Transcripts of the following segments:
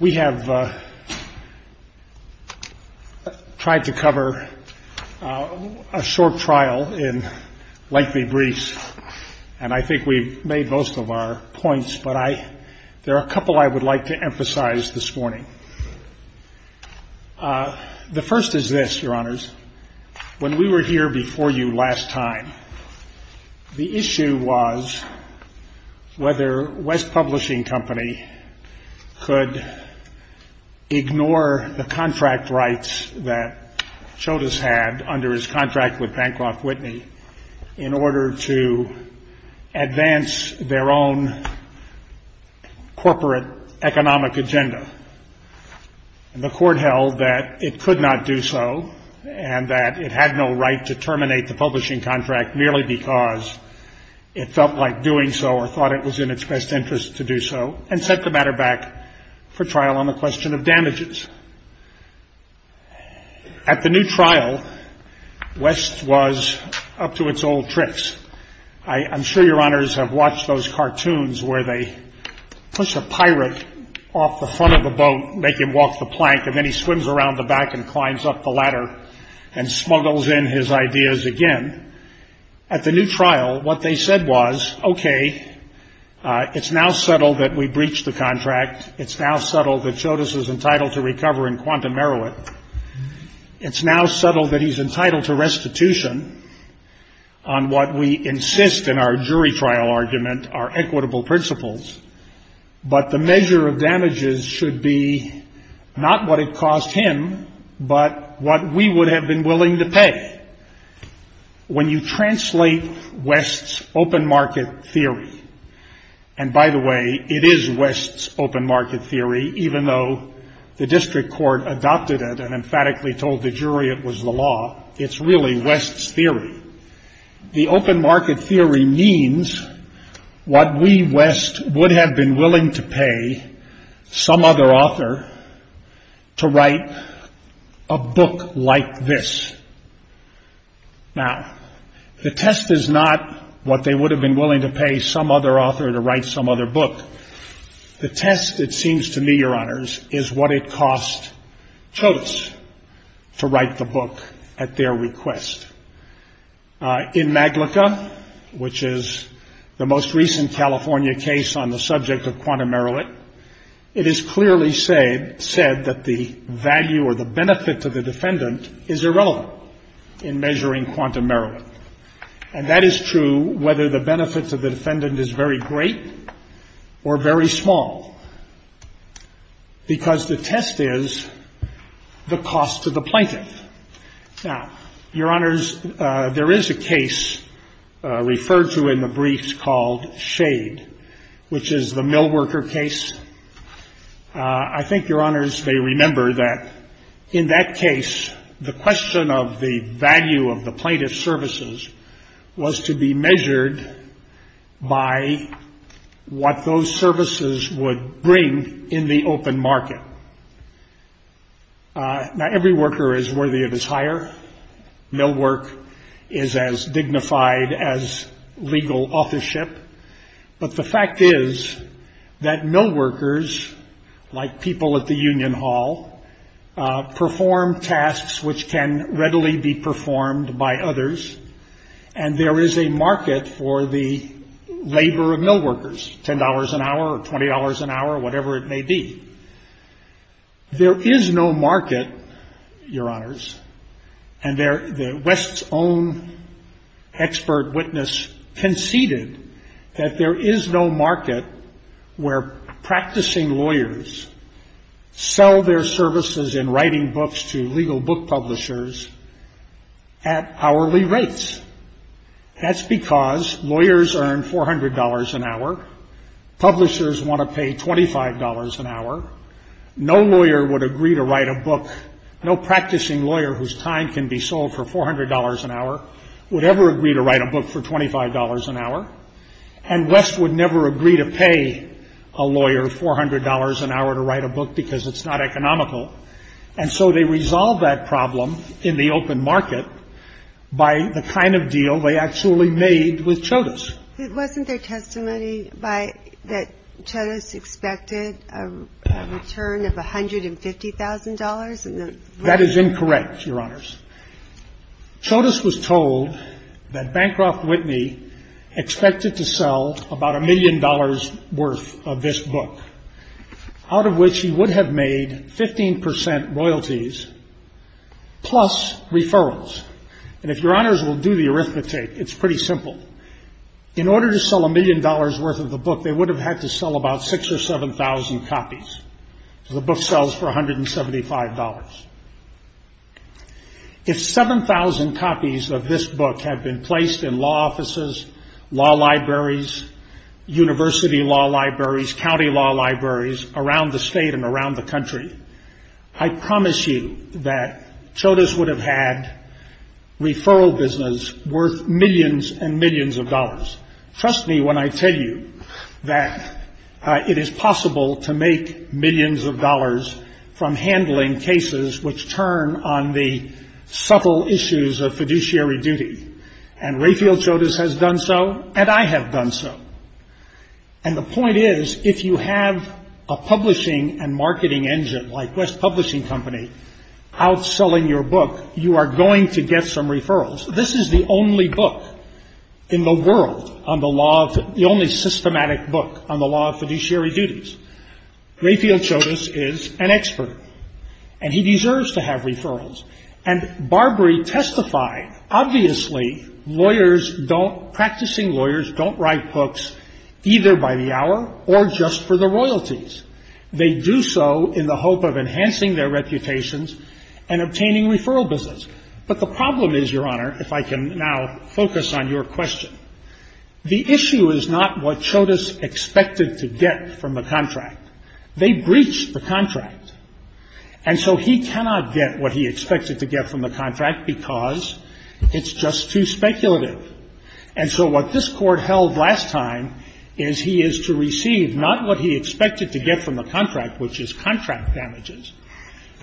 We have tried to cover a short trial in lengthy briefs, and I think we've made most of our The first is this, your honors. When we were here before you last time, the issue was whether West Publishing Company could ignore the contract rights that CHODOS had under his contract with Bancroft Whitney in order to advance their own corporate economic agenda. And the court held that it could not do so, and that it had no right to terminate the publishing contract merely because it felt like doing so or thought it was in its best interest to do so, and set the matter back for trial on the question of damages. At the new trial, West was up to its old tricks. I'm sure your honors have watched those cartoons where they push a pirate off the front of the boat, make him walk the plank, and then he swims around the back and climbs up the ladder and smuggles in his ideas again. At the new trial, what they said was, OK, it's now settled that we breached the contract. It's now settled that CHODOS is entitled to recover in quantum merit. It's now settled that he's entitled to restitution on what we insist in our jury trial argument are equitable principles. But the measure of damages should be not what it cost him, but what we would have been willing to pay. When you translate West's open market theory, and by the way, it is West's open market theory, even though the district court adopted it and emphatically told the jury it was the law, it's really West's theory. The open market theory means what we, West, would have been willing to pay some other author to write a book like this. Now, the test is not what they would have been willing to pay some other author to write some other book. The test, it seems to me, your honors, is what it cost CHODOS to write the book at their request. In MAGLICA, which is the most recent California case on the subject of quantum merit, it is clearly said that the value or the benefit to the defendant is irrelevant in measuring quantum merit. And that is true whether the benefit to the defendant is very great or very small, because the test is the cost to the plaintiff. Now, your honors, there is a case referred to in the briefs called SHADE, which is the millworker case. I think your honors may remember that in that case, the question of the value of the plaintiff's services was to be measured by what those services would bring in the open market. Now, every worker is worthy of his hire. Millwork is as dignified as legal authorship. But the fact is that millworkers, like people at the Union Hall, perform tasks which can readily be performed by others. And there is a market for the labor of millworkers, $10 an hour or $20 an hour, whatever it may be. There is no market, your honors, and West's own expert witness conceded that there is no market where practicing lawyers sell their services in writing books to legal book publishers at hourly rates. That's because lawyers earn $400 an hour. Publishers want to pay $25 an hour. No lawyer would agree to write a book, no practicing lawyer whose time can be sold for $400 an hour would ever agree to write a book for $25 an hour. And West would never agree to pay a lawyer $400 an hour to write a book because it's not economical. And so they resolved that problem in the open market by the kind of deal they actually made with Chodos. It wasn't their testimony that Chodos expected a return of $150,000? That is incorrect, your honors. Chodos was told that Bancroft Whitney expected to sell about $1 million worth of this book, out of which he would have made 15% royalties plus referrals. And if your honors will do the arithmetic, it's pretty simple. In order to sell $1 million worth of the book, they would have had to sell about 6 or 7,000 copies. The book sells for $175. If 7,000 copies of this book have been placed in law offices, law libraries, university law libraries, county law libraries around the state and around the country, I promise you that Chodos would have had referral business worth millions and millions of dollars. Trust me when I tell you that it is possible to make millions of dollars from handling cases which turn on the subtle issues of fiduciary duty. And Rayfield Chodos has done so, and I have done so. And the point is, if you have a publishing and marketing engine like West Publishing Company outselling your book, you are going to get some referrals. This is the only book in the world, the only systematic book on the law of fiduciary duties. Rayfield Chodos is an expert, and he deserves to have referrals. And Barbary testified, obviously, lawyers don't, practicing lawyers don't write books either by the hour or just for the royalties. They do so in the hope of enhancing their reputations and obtaining referral business. But the problem is, Your Honor, if I can now focus on your question, the issue is not what Chodos expected to get from the contract. They breached the contract. And so he cannot get what he expected to get from the contract because it's just too speculative. And so what this Court held last time is he is to receive not what he expected to get from the contract, which is contract damages,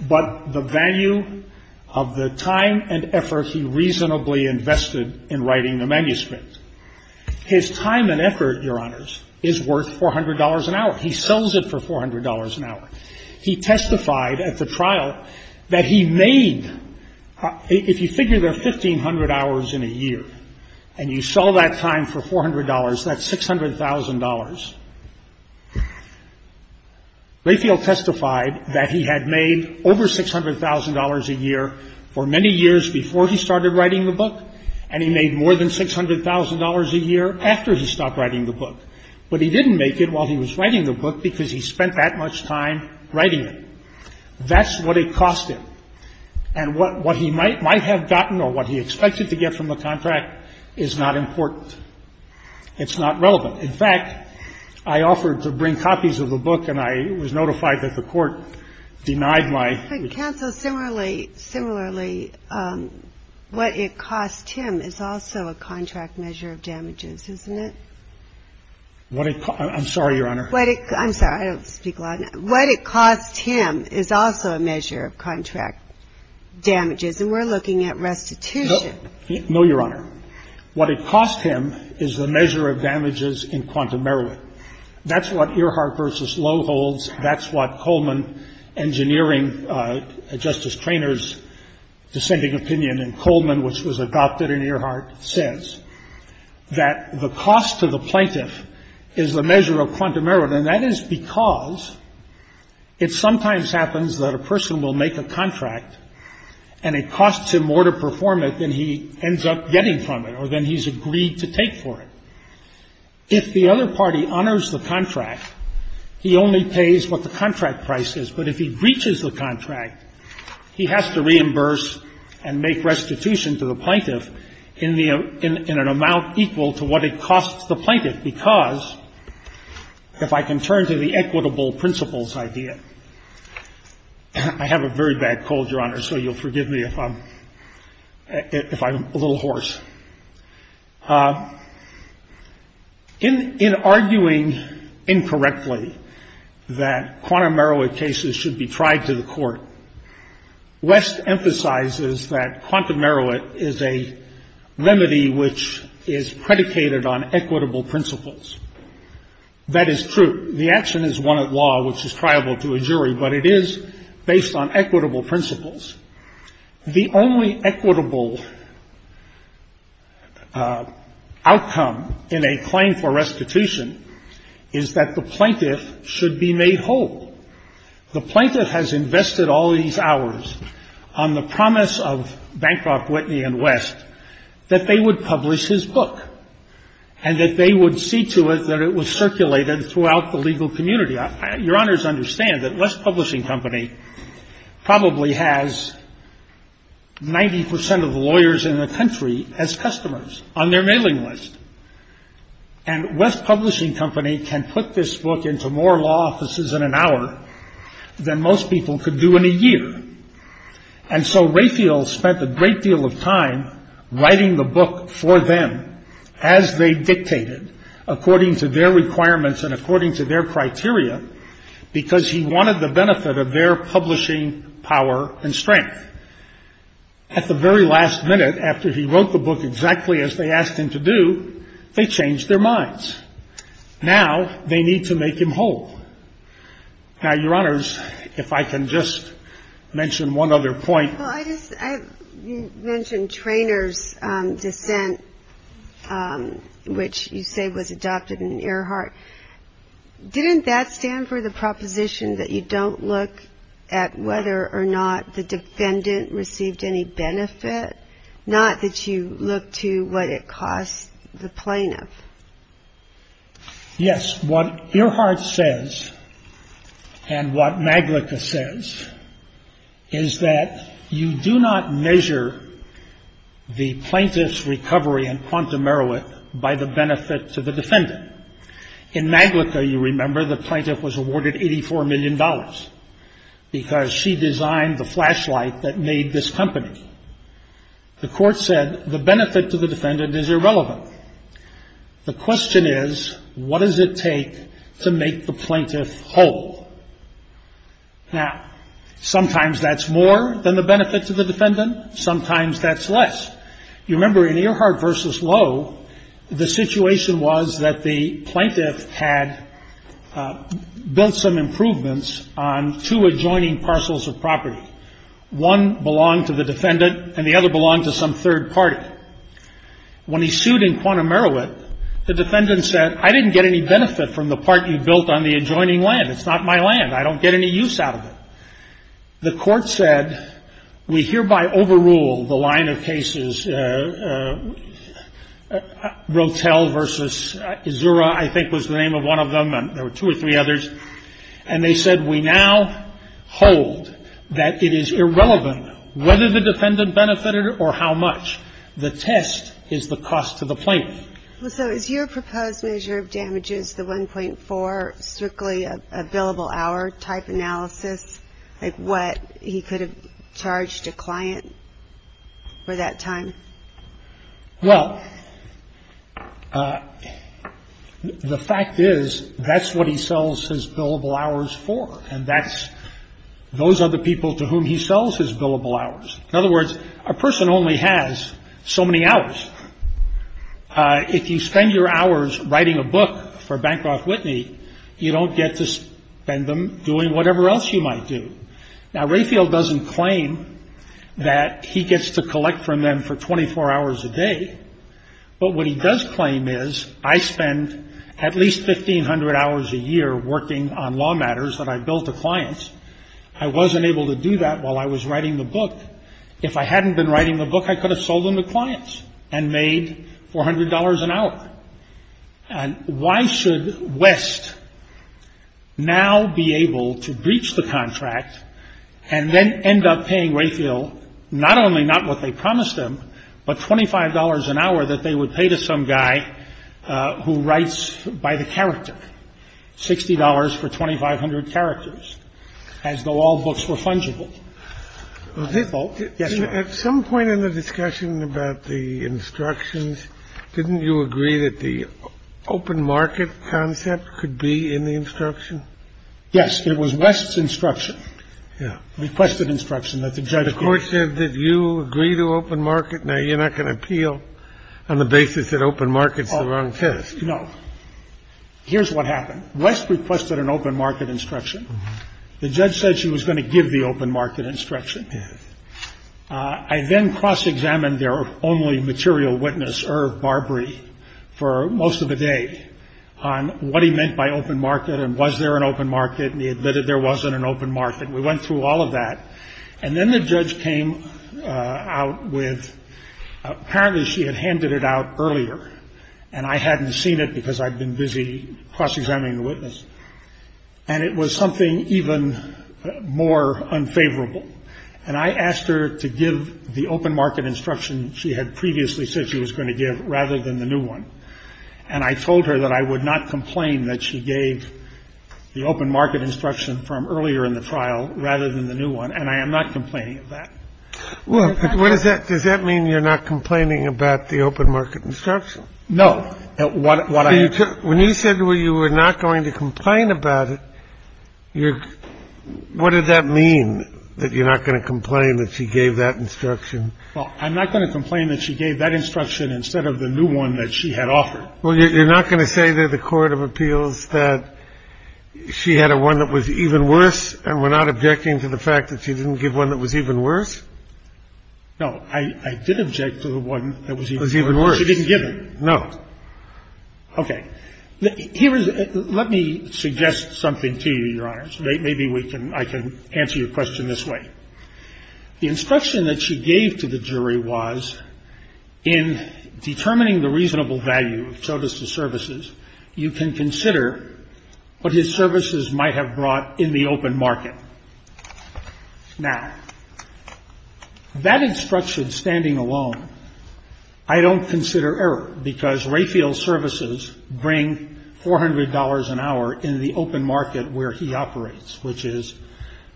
but the value of the time and effort he reasonably invested in writing the manuscript. His time and effort, Your Honors, is worth $400 an hour. He sells it for $400 an hour. He testified at the trial that he made, if you figure the 1,500 hours in a year, and you sell that time for $400, that's $600,000. Rayfield testified that he had made over $600,000 a year for many years before he started writing the book, and he made more than $600,000 a year after he stopped writing the book. But he didn't make it while he was writing the book because he spent that much time writing it. That's what it cost him. And what he might have gotten or what he expected to get from the contract is not important. It's not relevant. In fact, I offered to bring copies of the book, and I was notified that the Court denied my request. Ginsburg, similarly, what it cost him is also a contract measure of damages, isn't it? I'm sorry, Your Honor. I'm sorry. I don't speak a lot. What it cost him is also a measure of contract damages. And we're looking at restitution. No, Your Honor. What it cost him is the measure of damages in quantumerity. That's what Earhart v. Lowe holds. That's what Coleman Engineering, Justice Traynor's dissenting opinion in Coleman, which was adopted in Earhart, says, that the cost to the plaintiff is the measure of quantumerity. And that is because it sometimes happens that a person will make a contract, and it costs him more to perform it than he ends up getting from it or than he's agreed to take for it. If the other party honors the contract, he only pays what the contract price is. But if he breaches the contract, he has to reimburse and make restitution to the plaintiff in the amount equal to what it costs the plaintiff. Because, if I can turn to the equitable principles idea, I have a very bad cold, Your Honor, so you'll forgive me if I'm a little hoarse. In arguing incorrectly that quantumerity cases should be tried to the court, West emphasizes that quantumerity is a remedy which is predicated on equitable principles. That is true. The action is one at law, which is triable to a jury, but it is based on equitable principles. The only equitable outcome in a claim for restitution is that the plaintiff should be made whole. The plaintiff has invested all these hours on the promise of Bancroft, Whitney, and West that they would publish his book and that they would see to it that it was circulated throughout the legal community. Your Honors understand that West Publishing Company probably has 90 percent of the lawyers in the country as customers on their mailing list. And West Publishing Company can put this book into more law offices in an hour than most people could do in a year. And so Rayfield spent a great deal of time writing the book for them as they dictated, according to their requirements and according to their criteria, because he wanted the benefit of their publishing power and strength. At the very last minute, after he wrote the book exactly as they asked him to do, they changed their minds. Now they need to make him whole. Now, Your Honors, if I can just mention one other point. I just mentioned Trainor's dissent, which you say was adopted in Earhart. Didn't that stand for the proposition that you don't look at whether or not the defendant received any benefit? Not that you look to what it costs the plaintiff. Yes. What Earhart says and what Maglicka says is that you do not measure the plaintiff's recovery in Quantum Merowith by the benefit to the defendant. In Maglicka, you remember, the plaintiff was awarded $84 million because she designed the flashlight that made this company. The court said the benefit to the defendant is irrelevant. The question is, what does it take to make the plaintiff whole? Now, sometimes that's more than the benefit to the defendant. Sometimes that's less. You remember in Earhart versus Lowe, the situation was that the plaintiff had built some improvements on two adjoining parcels of property. One belonged to the defendant, and the other belonged to some third party. When he sued in Quantum Merowith, the defendant said, I didn't get any benefit from the part you built on the adjoining land. It's not my land. I don't get any use out of it. The court said, we hereby overrule the line of cases, Rotel versus Azura, I think was the name of one of them. There were two or three others. And they said, we now hold that it is irrelevant whether the defendant benefited or how much. The test is the cost to the plaintiff. So is your proposed measure of damages, the 1.4, strictly a billable hour type analysis, like what he could have charged a client for that time? Well, the fact is, that's what he sells his billable hours for. And that's those are the people to whom he sells his billable hours. In other words, a person only has so many hours. If you spend your hours writing a book for Bancroft Whitney, you don't get to spend them doing whatever else you might do. Now, Rayfield doesn't claim that he gets to collect from them for 24 hours a day. But what he does claim is, I spend at least 1,500 hours a year working on law matters that I bill to clients. I wasn't able to do that while I was writing the book. If I hadn't been writing the book, I could have sold them to clients and made $400 an hour. And why should West now be able to breach the contract and then end up paying Rayfield not only not what they promised him, but $25 an hour that they would pay to some guy who writes by the character, $60 for 2,500 characters, as though all books were fungible? Yes. At some point in the discussion about the instructions, didn't you agree that the open market concept could be in the instruction? Yes. It was West's instruction. Yeah, requested instruction that the judge. The court said that you agree to open market. Now, you're not going to appeal on the basis that open markets the wrong test. No. Here's what happened. West requested an open market instruction. The judge said she was going to give the open market instruction. I then cross-examined their only material witness, Irv Barbrey, for most of the day on what he meant by open market and was there an open market, and he admitted there wasn't an open market. We went through all of that. And then the judge came out with apparently she had handed it out earlier, and I hadn't seen it because I'd been busy cross-examining the witness. And it was something even more unfavorable. And I asked her to give the open market instruction she had previously said she was going to give rather than the new one. And I told her that I would not complain that she gave the open market instruction from earlier in the trial rather than the new one, and I am not complaining of that. Well, what does that does that mean? You're not complaining about the open market instruction? No. What are you? When you said you were not going to complain about it, you're. What does that mean that you're not going to complain that she gave that instruction? Well, I'm not going to complain that she gave that instruction instead of the new one that she had offered. Well, you're not going to say that the court of appeals that she had a one that was even worse. And we're not objecting to the fact that she didn't give one that was even worse? No. I did object to the one that was even worse. It was even worse. She didn't give it? No. Okay. Let me suggest something to you, Your Honors. Maybe I can answer your question this way. The instruction that she gave to the jury was in determining the reasonable value of Chodas's services, you can consider what his services might have brought in the open market. Now, that instruction standing alone I don't consider error, because Rayfield's services bring $400 an hour in the open market where he operates, which is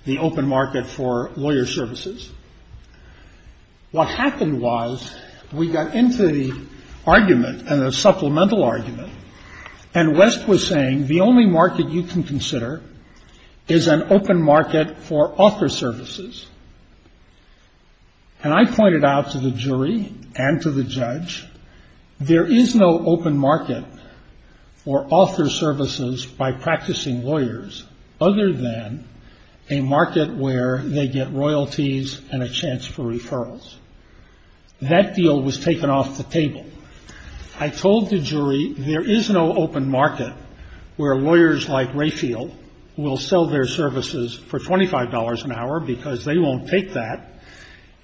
the open market for lawyer services. What happened was we got into the argument and the supplemental argument, and West was saying the only market you can consider is an open market for author services. And I pointed out to the jury and to the judge, there is no open market for author services by practicing lawyers other than a market where they get royalties and a chance for referrals. That deal was taken off the table. I told the jury there is no open market where lawyers like Rayfield will sell their services for $25 an hour because they won't take that,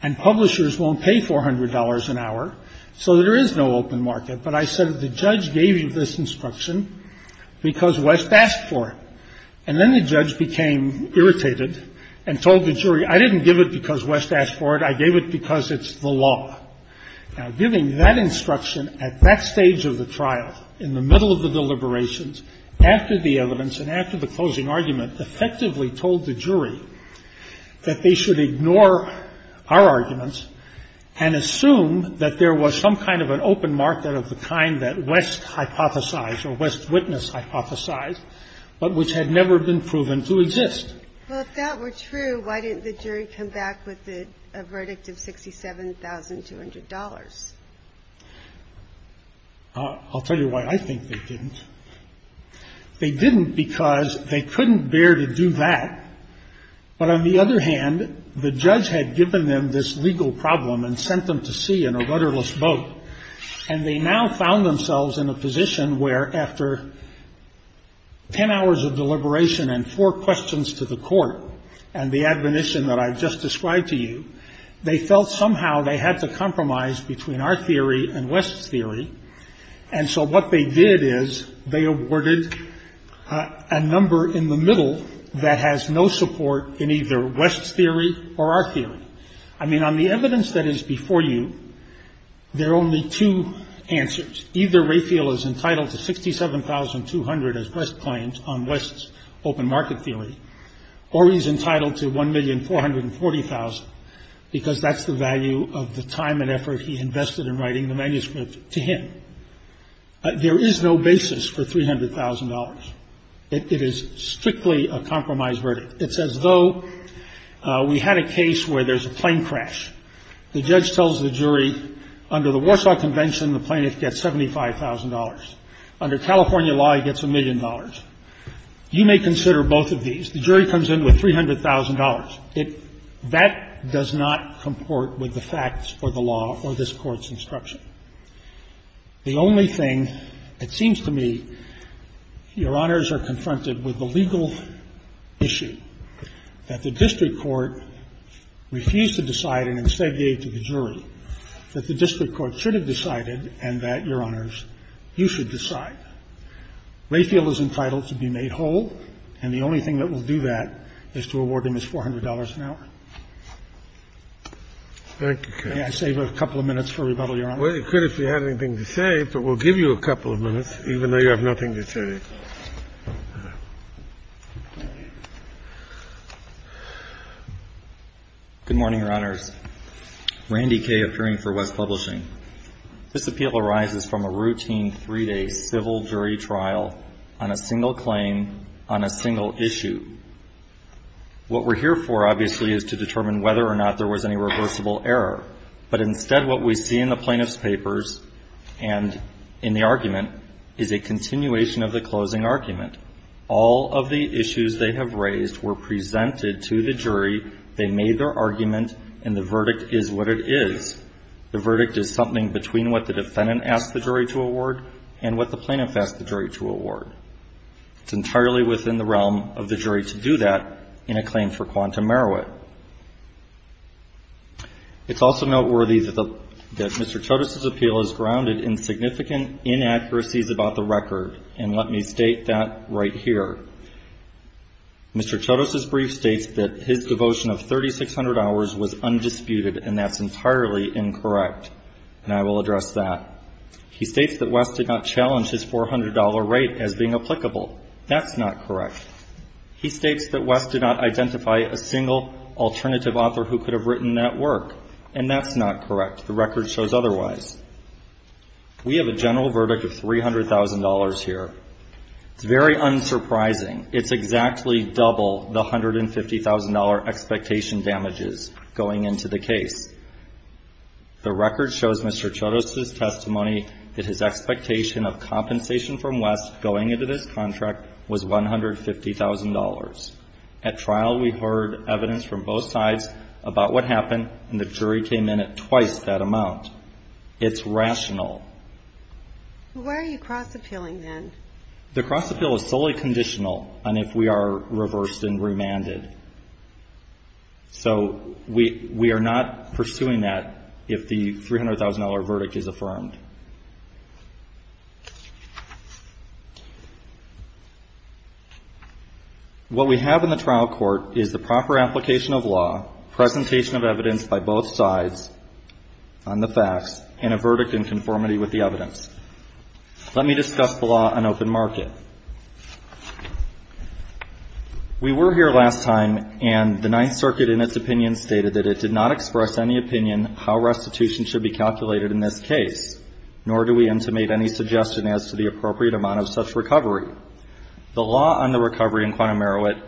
and publishers won't pay $400 an hour, so there is no open market. But I said the judge gave you this instruction because West asked for it. And then the judge became irritated and told the jury, I didn't give it because West asked for it. I gave it because it's the law. Now, giving that instruction at that stage of the trial, in the middle of the deliberations, after the evidence and after the closing argument, effectively told the jury that they should ignore our arguments and assume that there was some kind of an open market of the kind that West hypothesized or West's witness hypothesized, but which had never been proven to exist. Well, if that were true, why didn't the jury come back with a verdict of $67,200? I'll tell you why I think they didn't. They didn't because they couldn't bear to do that. But on the other hand, the judge had given them this legal problem and sent them to sea in a rudderless boat. And they now found themselves in a position where after ten hours of deliberation and four questions to the court and the admonition that I've just described to you, they felt somehow they had to compromise between our theory and West's theory. And so what they did is they awarded a number in the middle that has no support in either West's theory or our theory. I mean, on the evidence that is before you, there are only two answers. Either Raphael is entitled to $67,200 as West claims on West's open market theory, or he's entitled to $1,440,000 because that's the value of the time and effort he invested in writing the manuscript to him. There is no basis for $300,000. It is strictly a compromise verdict. It's as though we had a case where there's a plane crash. The judge tells the jury, under the Warsaw Convention, the plaintiff gets $75,000. Under California law, he gets a million dollars. You may consider both of these. The jury comes in with $300,000. That does not comport with the facts or the law or this Court's instruction. The only thing, it seems to me, Your Honors are confronted with the legal issue that the district court refused to decide and instead gave to the jury, that the district court should have decided and that, Your Honors, you should decide. Raphael is entitled to be made whole, and the only thing that will do that is to award him his $400 an hour. Scalia. Thank you, counsel. Can I save a couple of minutes for rebuttal, Your Honor? Well, you could if you had anything to say, but we'll give you a couple of minutes even though you have nothing to say. Good morning, Your Honors. Randy Kaye, appearing for West Publishing. This appeal arises from a routine three-day civil jury trial on a single claim on a single issue. What we're here for, obviously, is to determine whether or not there was any reversible error. But instead, what we see in the plaintiff's papers and in the argument is a continuation of the closing argument. All of the issues they have raised were presented to the jury. They made their argument, and the verdict is what it is. The verdict is something between what the defendant asked the jury to award and what the plaintiff asked the jury to award. It's entirely within the realm of the jury to do that in a claim for quantum meruit. It's also noteworthy that Mr. Chodos' appeal is grounded in significant inaccuracies about the record, and let me state that right here. Mr. Chodos' brief states that his devotion of 3,600 hours was undisputed, and that's entirely incorrect, and I will address that. He states that West did not challenge his $400 rate as being applicable. That's not correct. He states that West did not identify a single alternative author who could have written that work, and that's not correct. The record shows otherwise. We have a general verdict of $300,000 here. It's very unsurprising. It's exactly double the $150,000 expectation damages going into the case. The record shows Mr. Chodos' testimony that his expectation of compensation from West going into this contract was $150,000. At trial, we heard evidence from both sides about what happened, and the jury came in at twice that amount. It's rational. Why are you cross-appealing then? The cross-appeal is solely conditional on if we are reversed and remanded. So we are not pursuing that if the $300,000 verdict is affirmed. What we have in the trial court is the proper application of law, presentation of evidence by both sides on the facts, and a verdict in conformity with the evidence. Let me discuss the law on open market. We were here last time, and the Ninth Circuit, in its opinion, stated that it did not express any opinion how restitution should be calculated in this case, nor do we intimate any suggestion as to the appropriate amount of such recovery. The law on the recovery in Quantum Merowith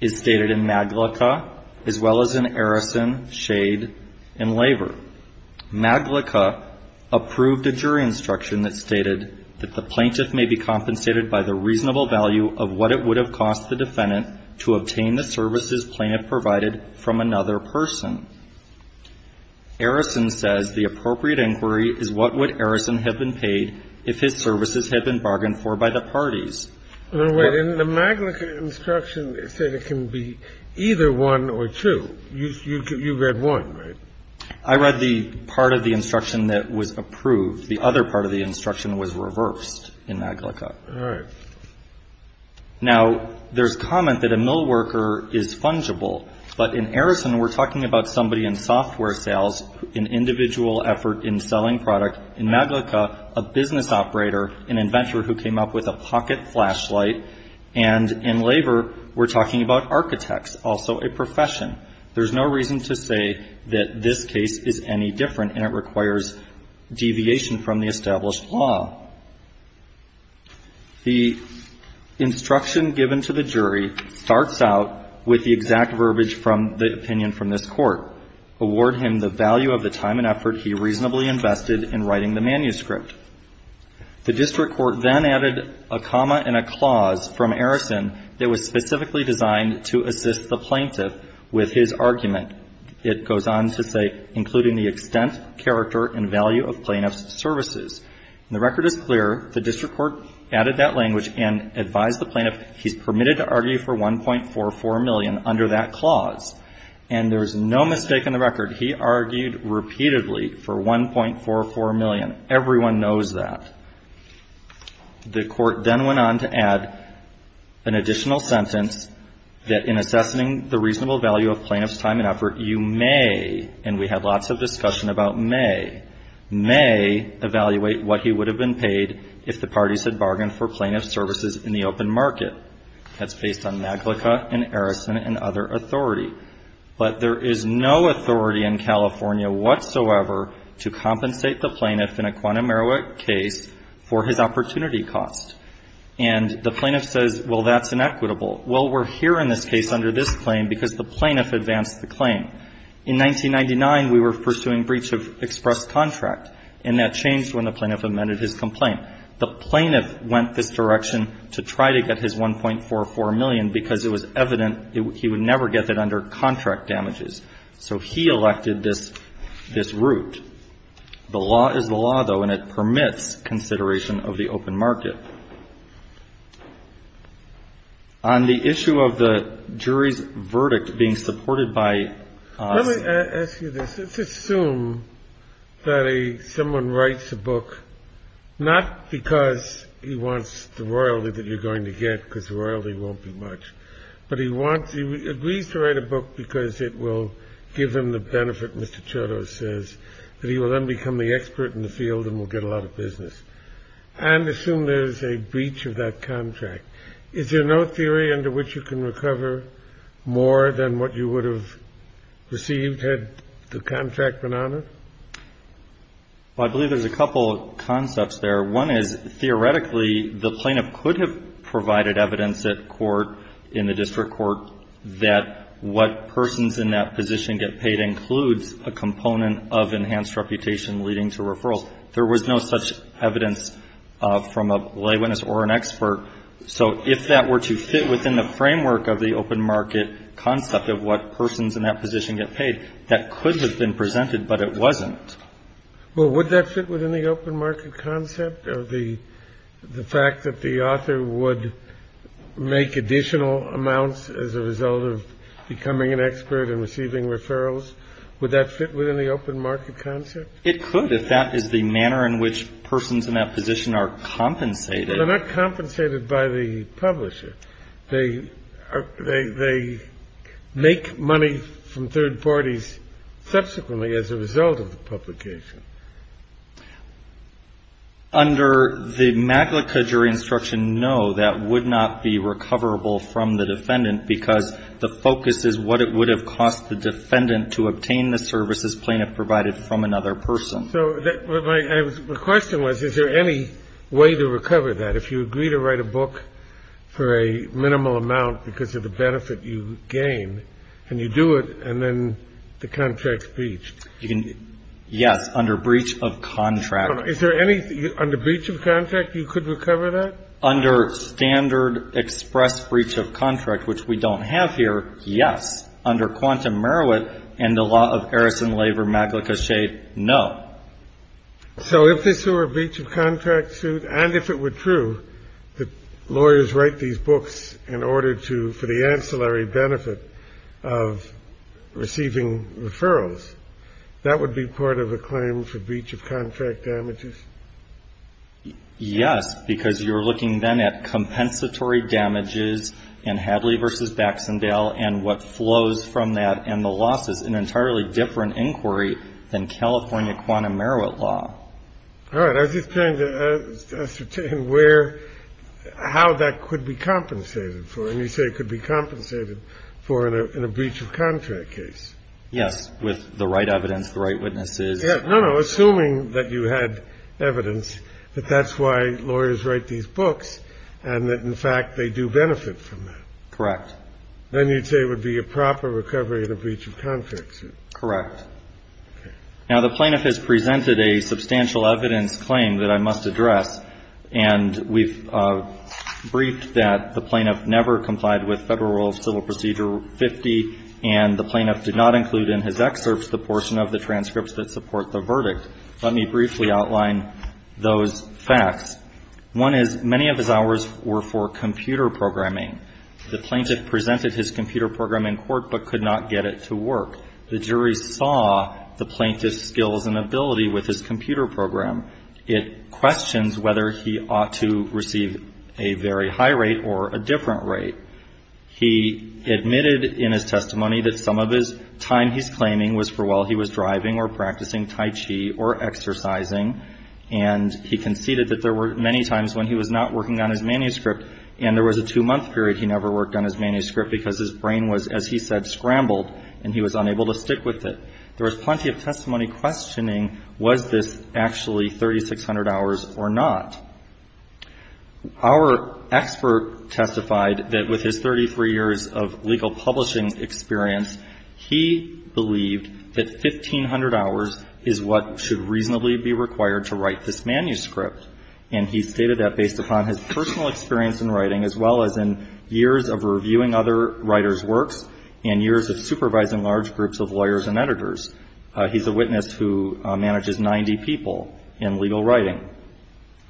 is stated in Maglicka, as well as in Arison, Shade, and Laver. Maglicka approved a jury instruction that stated that the plaintiff may be compensated by the reasonable value of what it would have cost the defendant to obtain the services plaintiff provided from another person. Arison says the appropriate inquiry is what would Arison have been paid if his services had been bargained for by the parties. The Maglicka instruction said it can be either one or two. You read one, right? I read the part of the instruction that was approved. The other part of the instruction was reversed in Maglicka. All right. Now, there's comment that a mill worker is fungible. But in Arison, we're talking about somebody in software sales, an individual effort in selling product. In Maglicka, a business operator, an inventor who came up with a pocket flashlight. And in Laver, we're talking about architects, also a profession. There's no reason to say that this case is any different and it requires deviation from the established law. The instruction given to the jury starts out with the exact verbiage from the opinion from this Court. Award him the value of the time and effort he reasonably invested in writing the manuscript. The district court then added a comma and a clause from Arison that was specifically designed to assist the plaintiff with his argument. It goes on to say, including the extent, character, and value of plaintiff's services. And the record is clear. The district court added that language and advised the plaintiff he's permitted to argue for $1.44 million under that clause. And there's no mistake in the record. He argued repeatedly for $1.44 million. Everyone knows that. The court then went on to add an additional sentence, that in assessing the reasonable value of plaintiff's time and effort, you may, and we had lots of discussion about may, may evaluate what he would have been paid if the parties had bargained for plaintiff's services in the open market. That's based on Maglica and Arison and other authority. But there is no authority in California whatsoever to compensate the plaintiff in a quantum error case for his opportunity cost. And the plaintiff says, well, that's inequitable. Well, we're here in this case under this claim because the plaintiff advanced the claim. In 1999, we were pursuing breach of express contract, and that changed when the plaintiff amended his complaint. The plaintiff went this direction to try to get his $1.44 million because it was evident he would never get it under contract damages. So he elected this route. The law is the law, though, and it permits consideration of the open market. On the issue of the jury's verdict being supported by the ---- Not because he wants the royalty that you're going to get because royalty won't be much, but he agrees to write a book because it will give him the benefit, Mr. Chodos says, that he will then become the expert in the field and will get a lot of business and assume there's a breach of that contract. Is there no theory under which you can recover more than what you would have received had the contract been honored? Well, I believe there's a couple concepts there. One is, theoretically, the plaintiff could have provided evidence at court, in the district court, that what persons in that position get paid includes a component of enhanced reputation leading to referrals. There was no such evidence from a lay witness or an expert. So if that were to fit within the framework of the open market concept of what persons in that position get paid, that could have been presented, but it wasn't. Well, would that fit within the open market concept of the fact that the author would make additional amounts as a result of becoming an expert and receiving referrals? Would that fit within the open market concept? It could if that is the manner in which persons in that position are compensated. They're not compensated by the publisher. They make money from third parties subsequently as a result of the publication. Under the MAGLICA jury instruction, no, that would not be recoverable from the defendant because the focus is what it would have cost the defendant to obtain the services plaintiff provided from another person. So my question was, is there any way to recover that? If you agree to write a book for a minimal amount because of the benefit you gain, and you do it, and then the contract's breached. Yes, under breach of contract. Is there any under breach of contract you could recover that? Under standard express breach of contract, which we don't have here, yes. Under Quantum Marowit and the law of Eris and Laver, MAGLICA, shade, no. So if this were a breach of contract suit, and if it were true, that lawyers write these books in order to, for the ancillary benefit of receiving referrals, that would be part of a claim for breach of contract damages? Yes, because you're looking then at compensatory damages and Hadley v. Baxendale and what flows from that, and the loss is an entirely different inquiry than California Quantum Marowit law. All right. I was just trying to ascertain where, how that could be compensated for. And you say it could be compensated for in a breach of contract case. Yes, with the right evidence, the right witnesses. No, no, assuming that you had evidence that that's why lawyers write these books and that, in fact, they do benefit from that. Correct. Then you'd say it would be a proper recovery in a breach of contract suit. Correct. Now, the plaintiff has presented a substantial evidence claim that I must address, and we've briefed that the plaintiff never complied with Federal Rule of Civil Procedure 50, and the plaintiff did not include in his excerpts the portion of the transcripts that support the verdict. Let me briefly outline those facts. One is many of his hours were for computer programming. The plaintiff presented his computer program in court but could not get it to work. The jury saw the plaintiff's skills and ability with his computer program. It questions whether he ought to receive a very high rate or a different rate. He admitted in his testimony that some of his time he's claiming was for while he was driving or practicing tai chi or exercising, and he conceded that there were many times when he was not working on his manuscript and there was a two-month period he never worked on his manuscript because his brain was, as he said, scrambled, and he was unable to stick with it. There was plenty of testimony questioning was this actually 3,600 hours or not. Our expert testified that with his 33 years of legal publishing experience, he believed that 1,500 hours is what should reasonably be required to write this manuscript, and he stated that based upon his personal experience in writing as well as in years of reviewing other writers' works and years of supervising large groups of lawyers and editors. He's a witness who manages 90 people in legal writing.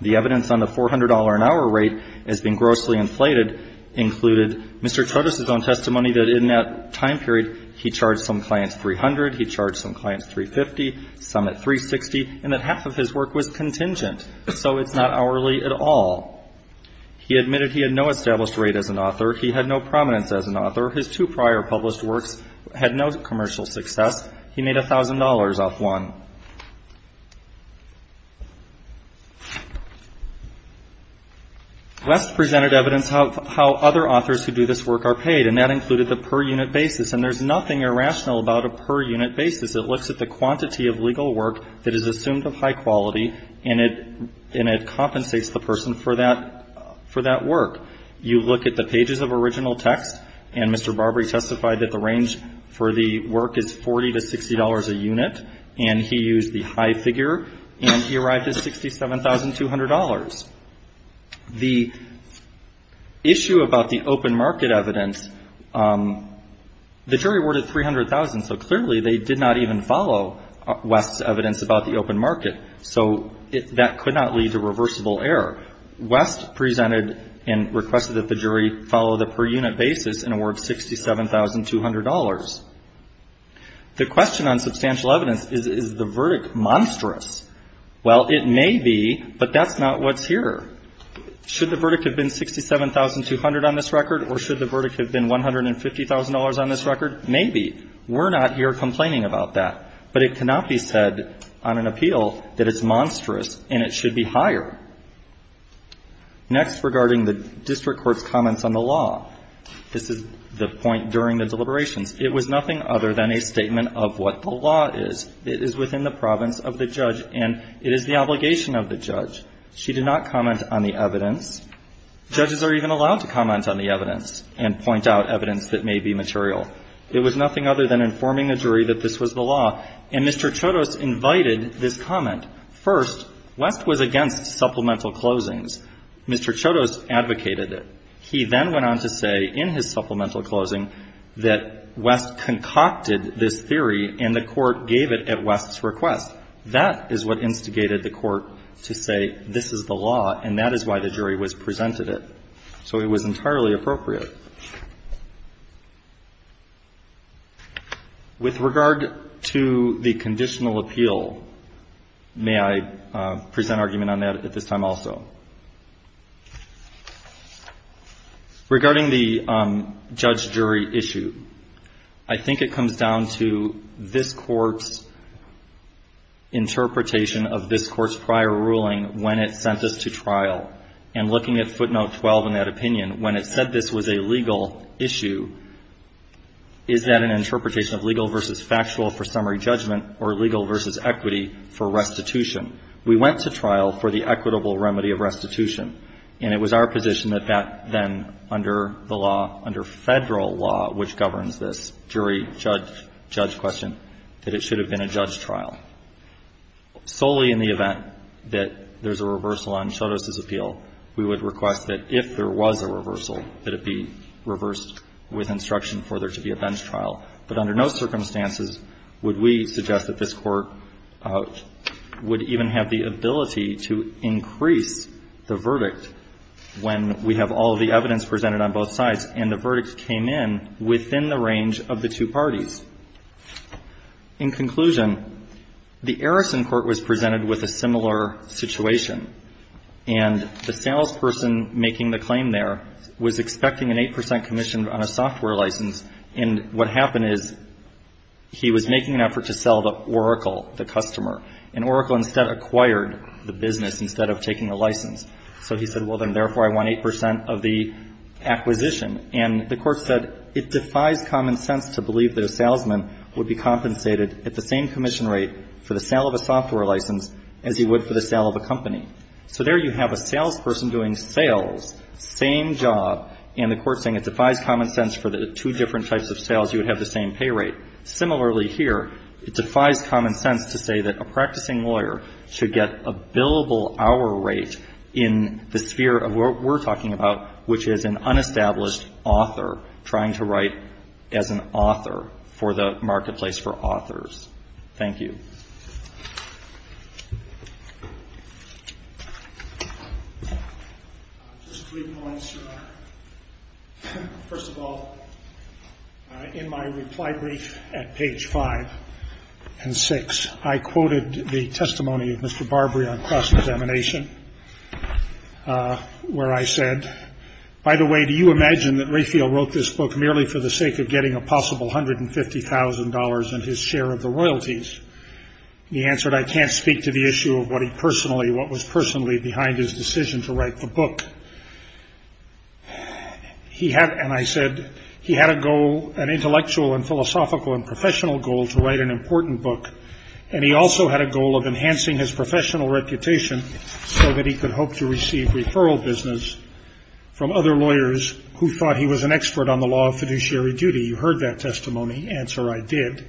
The evidence on the $400-an-hour rate has been grossly inflated, included Mr. Trotis' own testimony that in that time period he charged some clients 300, he charged some clients 350, some at 360, and that half of his work was contingent, so it's not hourly at all. He admitted he had no established rate as an author. He had no prominence as an author. His two prior published works had no commercial success. He made $1,000 off one. West presented evidence how other authors who do this work are paid, and that included the per-unit basis, and there's nothing irrational about a per-unit basis. It looks at the quantity of legal work that is assumed of high quality, and it compensates the person for that work. You look at the pages of original text, and Mr. Barbary testified that the range for the work is $40 to $60 a unit, and he used the high figure, and he arrived at $67,200. The issue about the open market evidence, the jury awarded $300,000, so clearly they did not even follow West's evidence about the open market, so that could not lead to reversible error. West presented and requested that the jury follow the per-unit basis and award $67,200. The question on substantial evidence is, is the verdict monstrous? Well, it may be, but that's not what's here. Should the verdict have been $67,200 on this record, or should the verdict have been $150,000 on this record? Maybe. We're not here complaining about that, but it cannot be said on an appeal that it's monstrous and it should be higher. Next, regarding the district court's comments on the law. This is the point during the deliberations. It was nothing other than a statement of what the law is. It is within the province of the judge, and it is the obligation of the judge. She did not comment on the evidence. Judges are even allowed to comment on the evidence and point out evidence that may be material. It was nothing other than informing the jury that this was the law, and Mr. Chodos invited this comment. First, West was against supplemental closings. Mr. Chodos advocated it. He then went on to say in his supplemental closing that West concocted this theory, and the court gave it at West's request. That is what instigated the court to say this is the law, and that is why the jury was presented it. So it was entirely appropriate. With regard to the conditional appeal, may I present argument on that at this time also? Regarding the judge-jury issue, I think it comes down to this court's interpretation of this court's prior ruling when it sent this to trial. And looking at footnote 12 in that opinion, when it said this was a legal issue, is that an interpretation of legal versus factual for summary judgment or legal versus equity for restitution? We went to trial for the equitable remedy of restitution, and it was our position that back then under the law, under Federal law, which governs this jury-judge-judge question, that it should have been a judge trial. Solely in the event that there's a reversal on Chodos's appeal, we would request that if there was a reversal, that it be reversed with instruction for there to be a bench trial. But under no circumstances would we suggest that this court would even have the ability to increase the verdict when we have all of the evidence presented on both sides and the verdict came in within the range of the two parties. In conclusion, the Arison court was presented with a similar situation, and the salesperson making the claim there was expecting an 8 percent commission on a software license. And what happened is he was making an effort to sell to Oracle, the customer, and Oracle instead acquired the business instead of taking the license. So he said, well, then therefore I want 8 percent of the acquisition. And the court said it defies common sense to believe that a salesman would be compensated at the same commission rate for the sale of a software license as he would for the sale of a company. So there you have a salesperson doing sales, same job, and the court saying it defies common sense for the two different types of sales you would have the same pay rate. Similarly here, it defies common sense to say that a practicing lawyer should get a billable hour rate in the sphere of what we're talking about, which is an unestablished author trying to write as an author for the marketplace for authors. Thank you. Just three points. First of all, in my reply brief at page five and six, I quoted the testimony of Mr. Barbary on cross-examination where I said, by the way, do you imagine that Rayfield wrote this book merely for the sake of getting a possible $150,000 and his share of the royalties? He answered, I can't speak to the issue of what he personally, what was personally behind his decision to write the book. He had, and I said, he had a goal, an intellectual and philosophical and professional goal to write an important book, and he also had a goal of enhancing his professional reputation so that he could hope to receive referral business from other lawyers who thought he was an expert on the law of fiduciary duty. You heard that testimony. Answer, I did.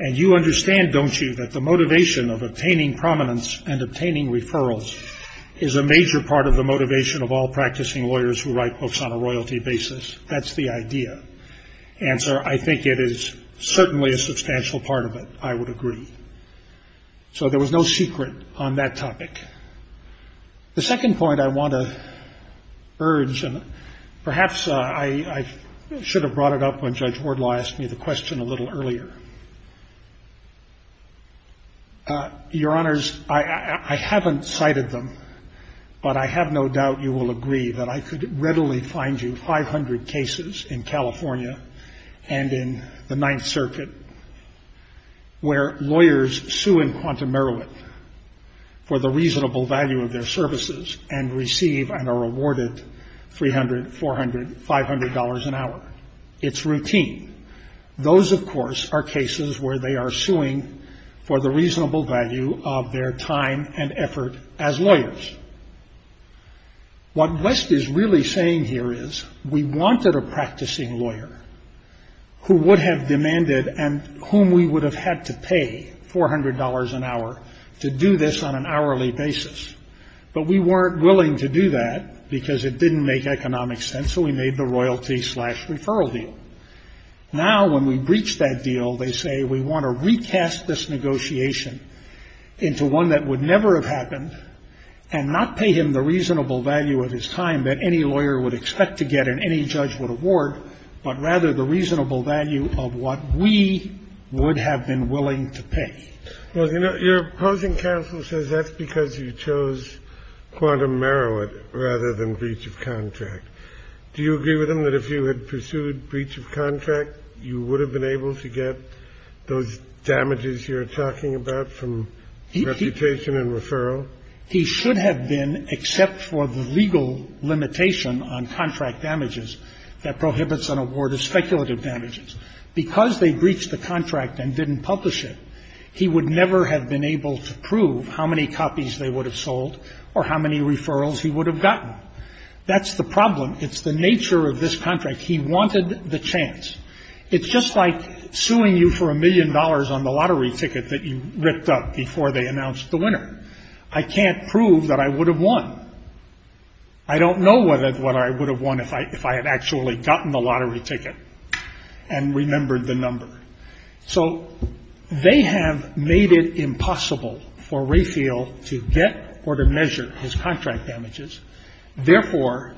And you understand, don't you, that the motivation of obtaining prominence and obtaining referrals is a major part of the motivation of all practicing lawyers who write books on a royalty basis. That's the idea. Answer, I think it is certainly a substantial part of it. I would agree. So there was no secret on that topic. The second point I want to urge, and perhaps I should have brought it up when Judge Wardlaw asked me the question a little earlier. Your Honors, I haven't cited them, but I have no doubt you will agree that I could readily find you 500 cases in California and in the Ninth Circuit where lawyers sue in Quantum Merriwick for the reasonable value of their services and receive and are awarded $300, $400, $500 an hour. It's routine. Those, of course, are cases where they are suing for the reasonable value of their time and effort as lawyers. What West is really saying here is we wanted a practicing lawyer who would have demanded and whom we would have had to pay $400 an hour to do this on an hourly basis. But we weren't willing to do that because it didn't make economic sense. So we made the royalty slash referral deal. Now, when we breach that deal, they say we want to recast this negotiation into one that would never have happened. And not pay him the reasonable value of his time that any lawyer would expect to get and any judge would award, but rather the reasonable value of what we would have been willing to pay. Well, you know, your opposing counsel says that's because you chose Quantum Merriwick rather than breach of contract. Do you agree with him that if you had pursued breach of contract, you would have been able to get those damages you're talking about from reputation and referral? He should have been, except for the legal limitation on contract damages that prohibits an award of speculative damages. Because they breached the contract and didn't publish it, he would never have been able to prove how many copies they would have sold or how many referrals he would have gotten. That's the problem. It's the nature of this contract. He wanted the chance. It's just like suing you for a million dollars on the lottery ticket that you ripped up before they announced the winner. I can't prove that I would have won. I don't know what I would have won if I had actually gotten the lottery ticket and remembered the number. So they have made it impossible for Rayfield to get or to measure his contract damages. Therefore,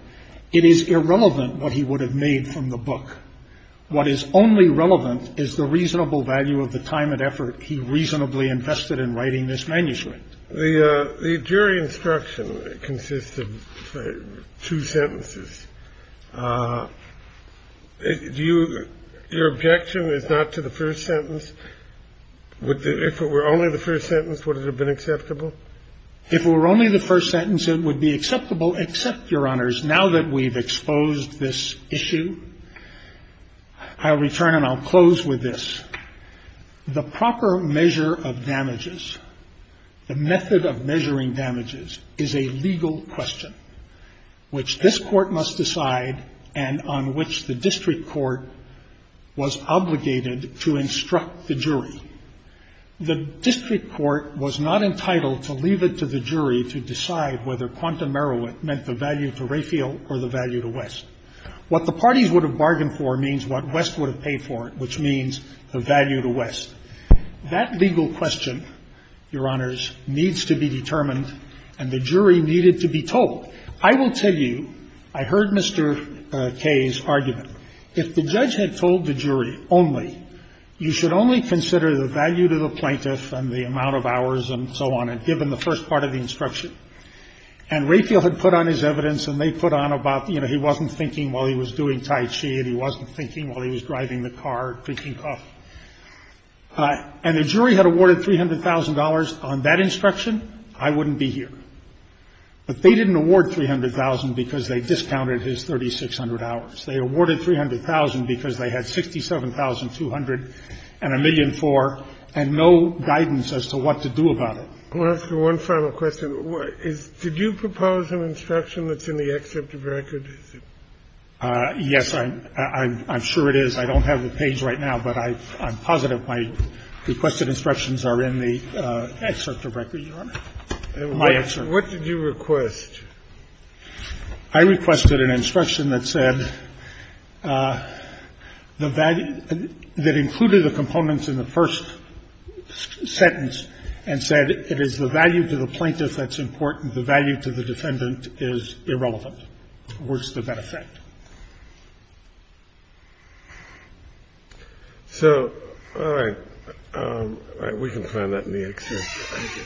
it is irrelevant what he would have made from the book. What is only relevant is the reasonable value of the time and effort he reasonably invested in writing this manuscript. The jury instruction consisted of two sentences. Do you your objection is not to the first sentence? If it were only the first sentence, would it have been acceptable? If it were only the first sentence, it would be acceptable, except, Your Honors, now that we've exposed this issue, I'll return and I'll close with this. The proper measure of damages, the method of measuring damages is a legal question, which this Court must decide and on which the district court was obligated to instruct the jury. The district court was not entitled to leave it to the jury to decide whether quantum merriment meant the value to Rayfield or the value to West. What the parties would have bargained for means what West would have paid for it, which means the value to West. That legal question, Your Honors, needs to be determined, and the jury needed to be told. I will tell you, I heard Mr. Kaye's argument. If the judge had told the jury only, you should only consider the value to the plaintiff and the amount of hours and so on, and given the first part of the instruction. And Rayfield had put on his evidence and they put on about, you know, he wasn't thinking while he was doing Tai Chi and he wasn't thinking while he was driving the car, drinking coffee. And the jury had awarded $300,000 on that instruction. I wouldn't be here. But they didn't award $300,000 because they discounted his 3,600 hours. They awarded $300,000 because they had 67,200 and a million for, and no guidance as to what to do about it. I want to ask you one final question. Did you propose an instruction that's in the excerpt of record? Yes, I'm sure it is. I don't have the page right now, but I'm positive my requested instructions are in the excerpt of record, Your Honor, my excerpt. What did you request? I requested an instruction that said the value that included the components in the first sentence and said it is the value to the plaintiff that's important. The value to the defendant is irrelevant. Where's the benefit? So, all right. We can find that in the excerpt. Thank you.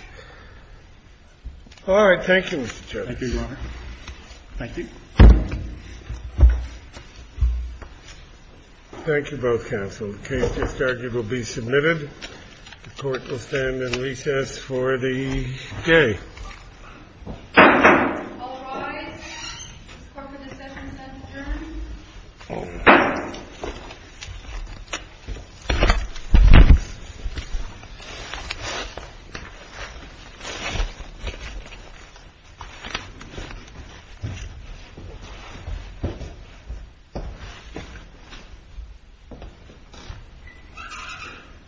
All right. Thank you, Mr. Chairman. Thank you, Your Honor. Thank you. Thank you both, counsel. The case discharged will be submitted. The Court will stand in recess for the day. All rise. This court for the second sentence adjourned.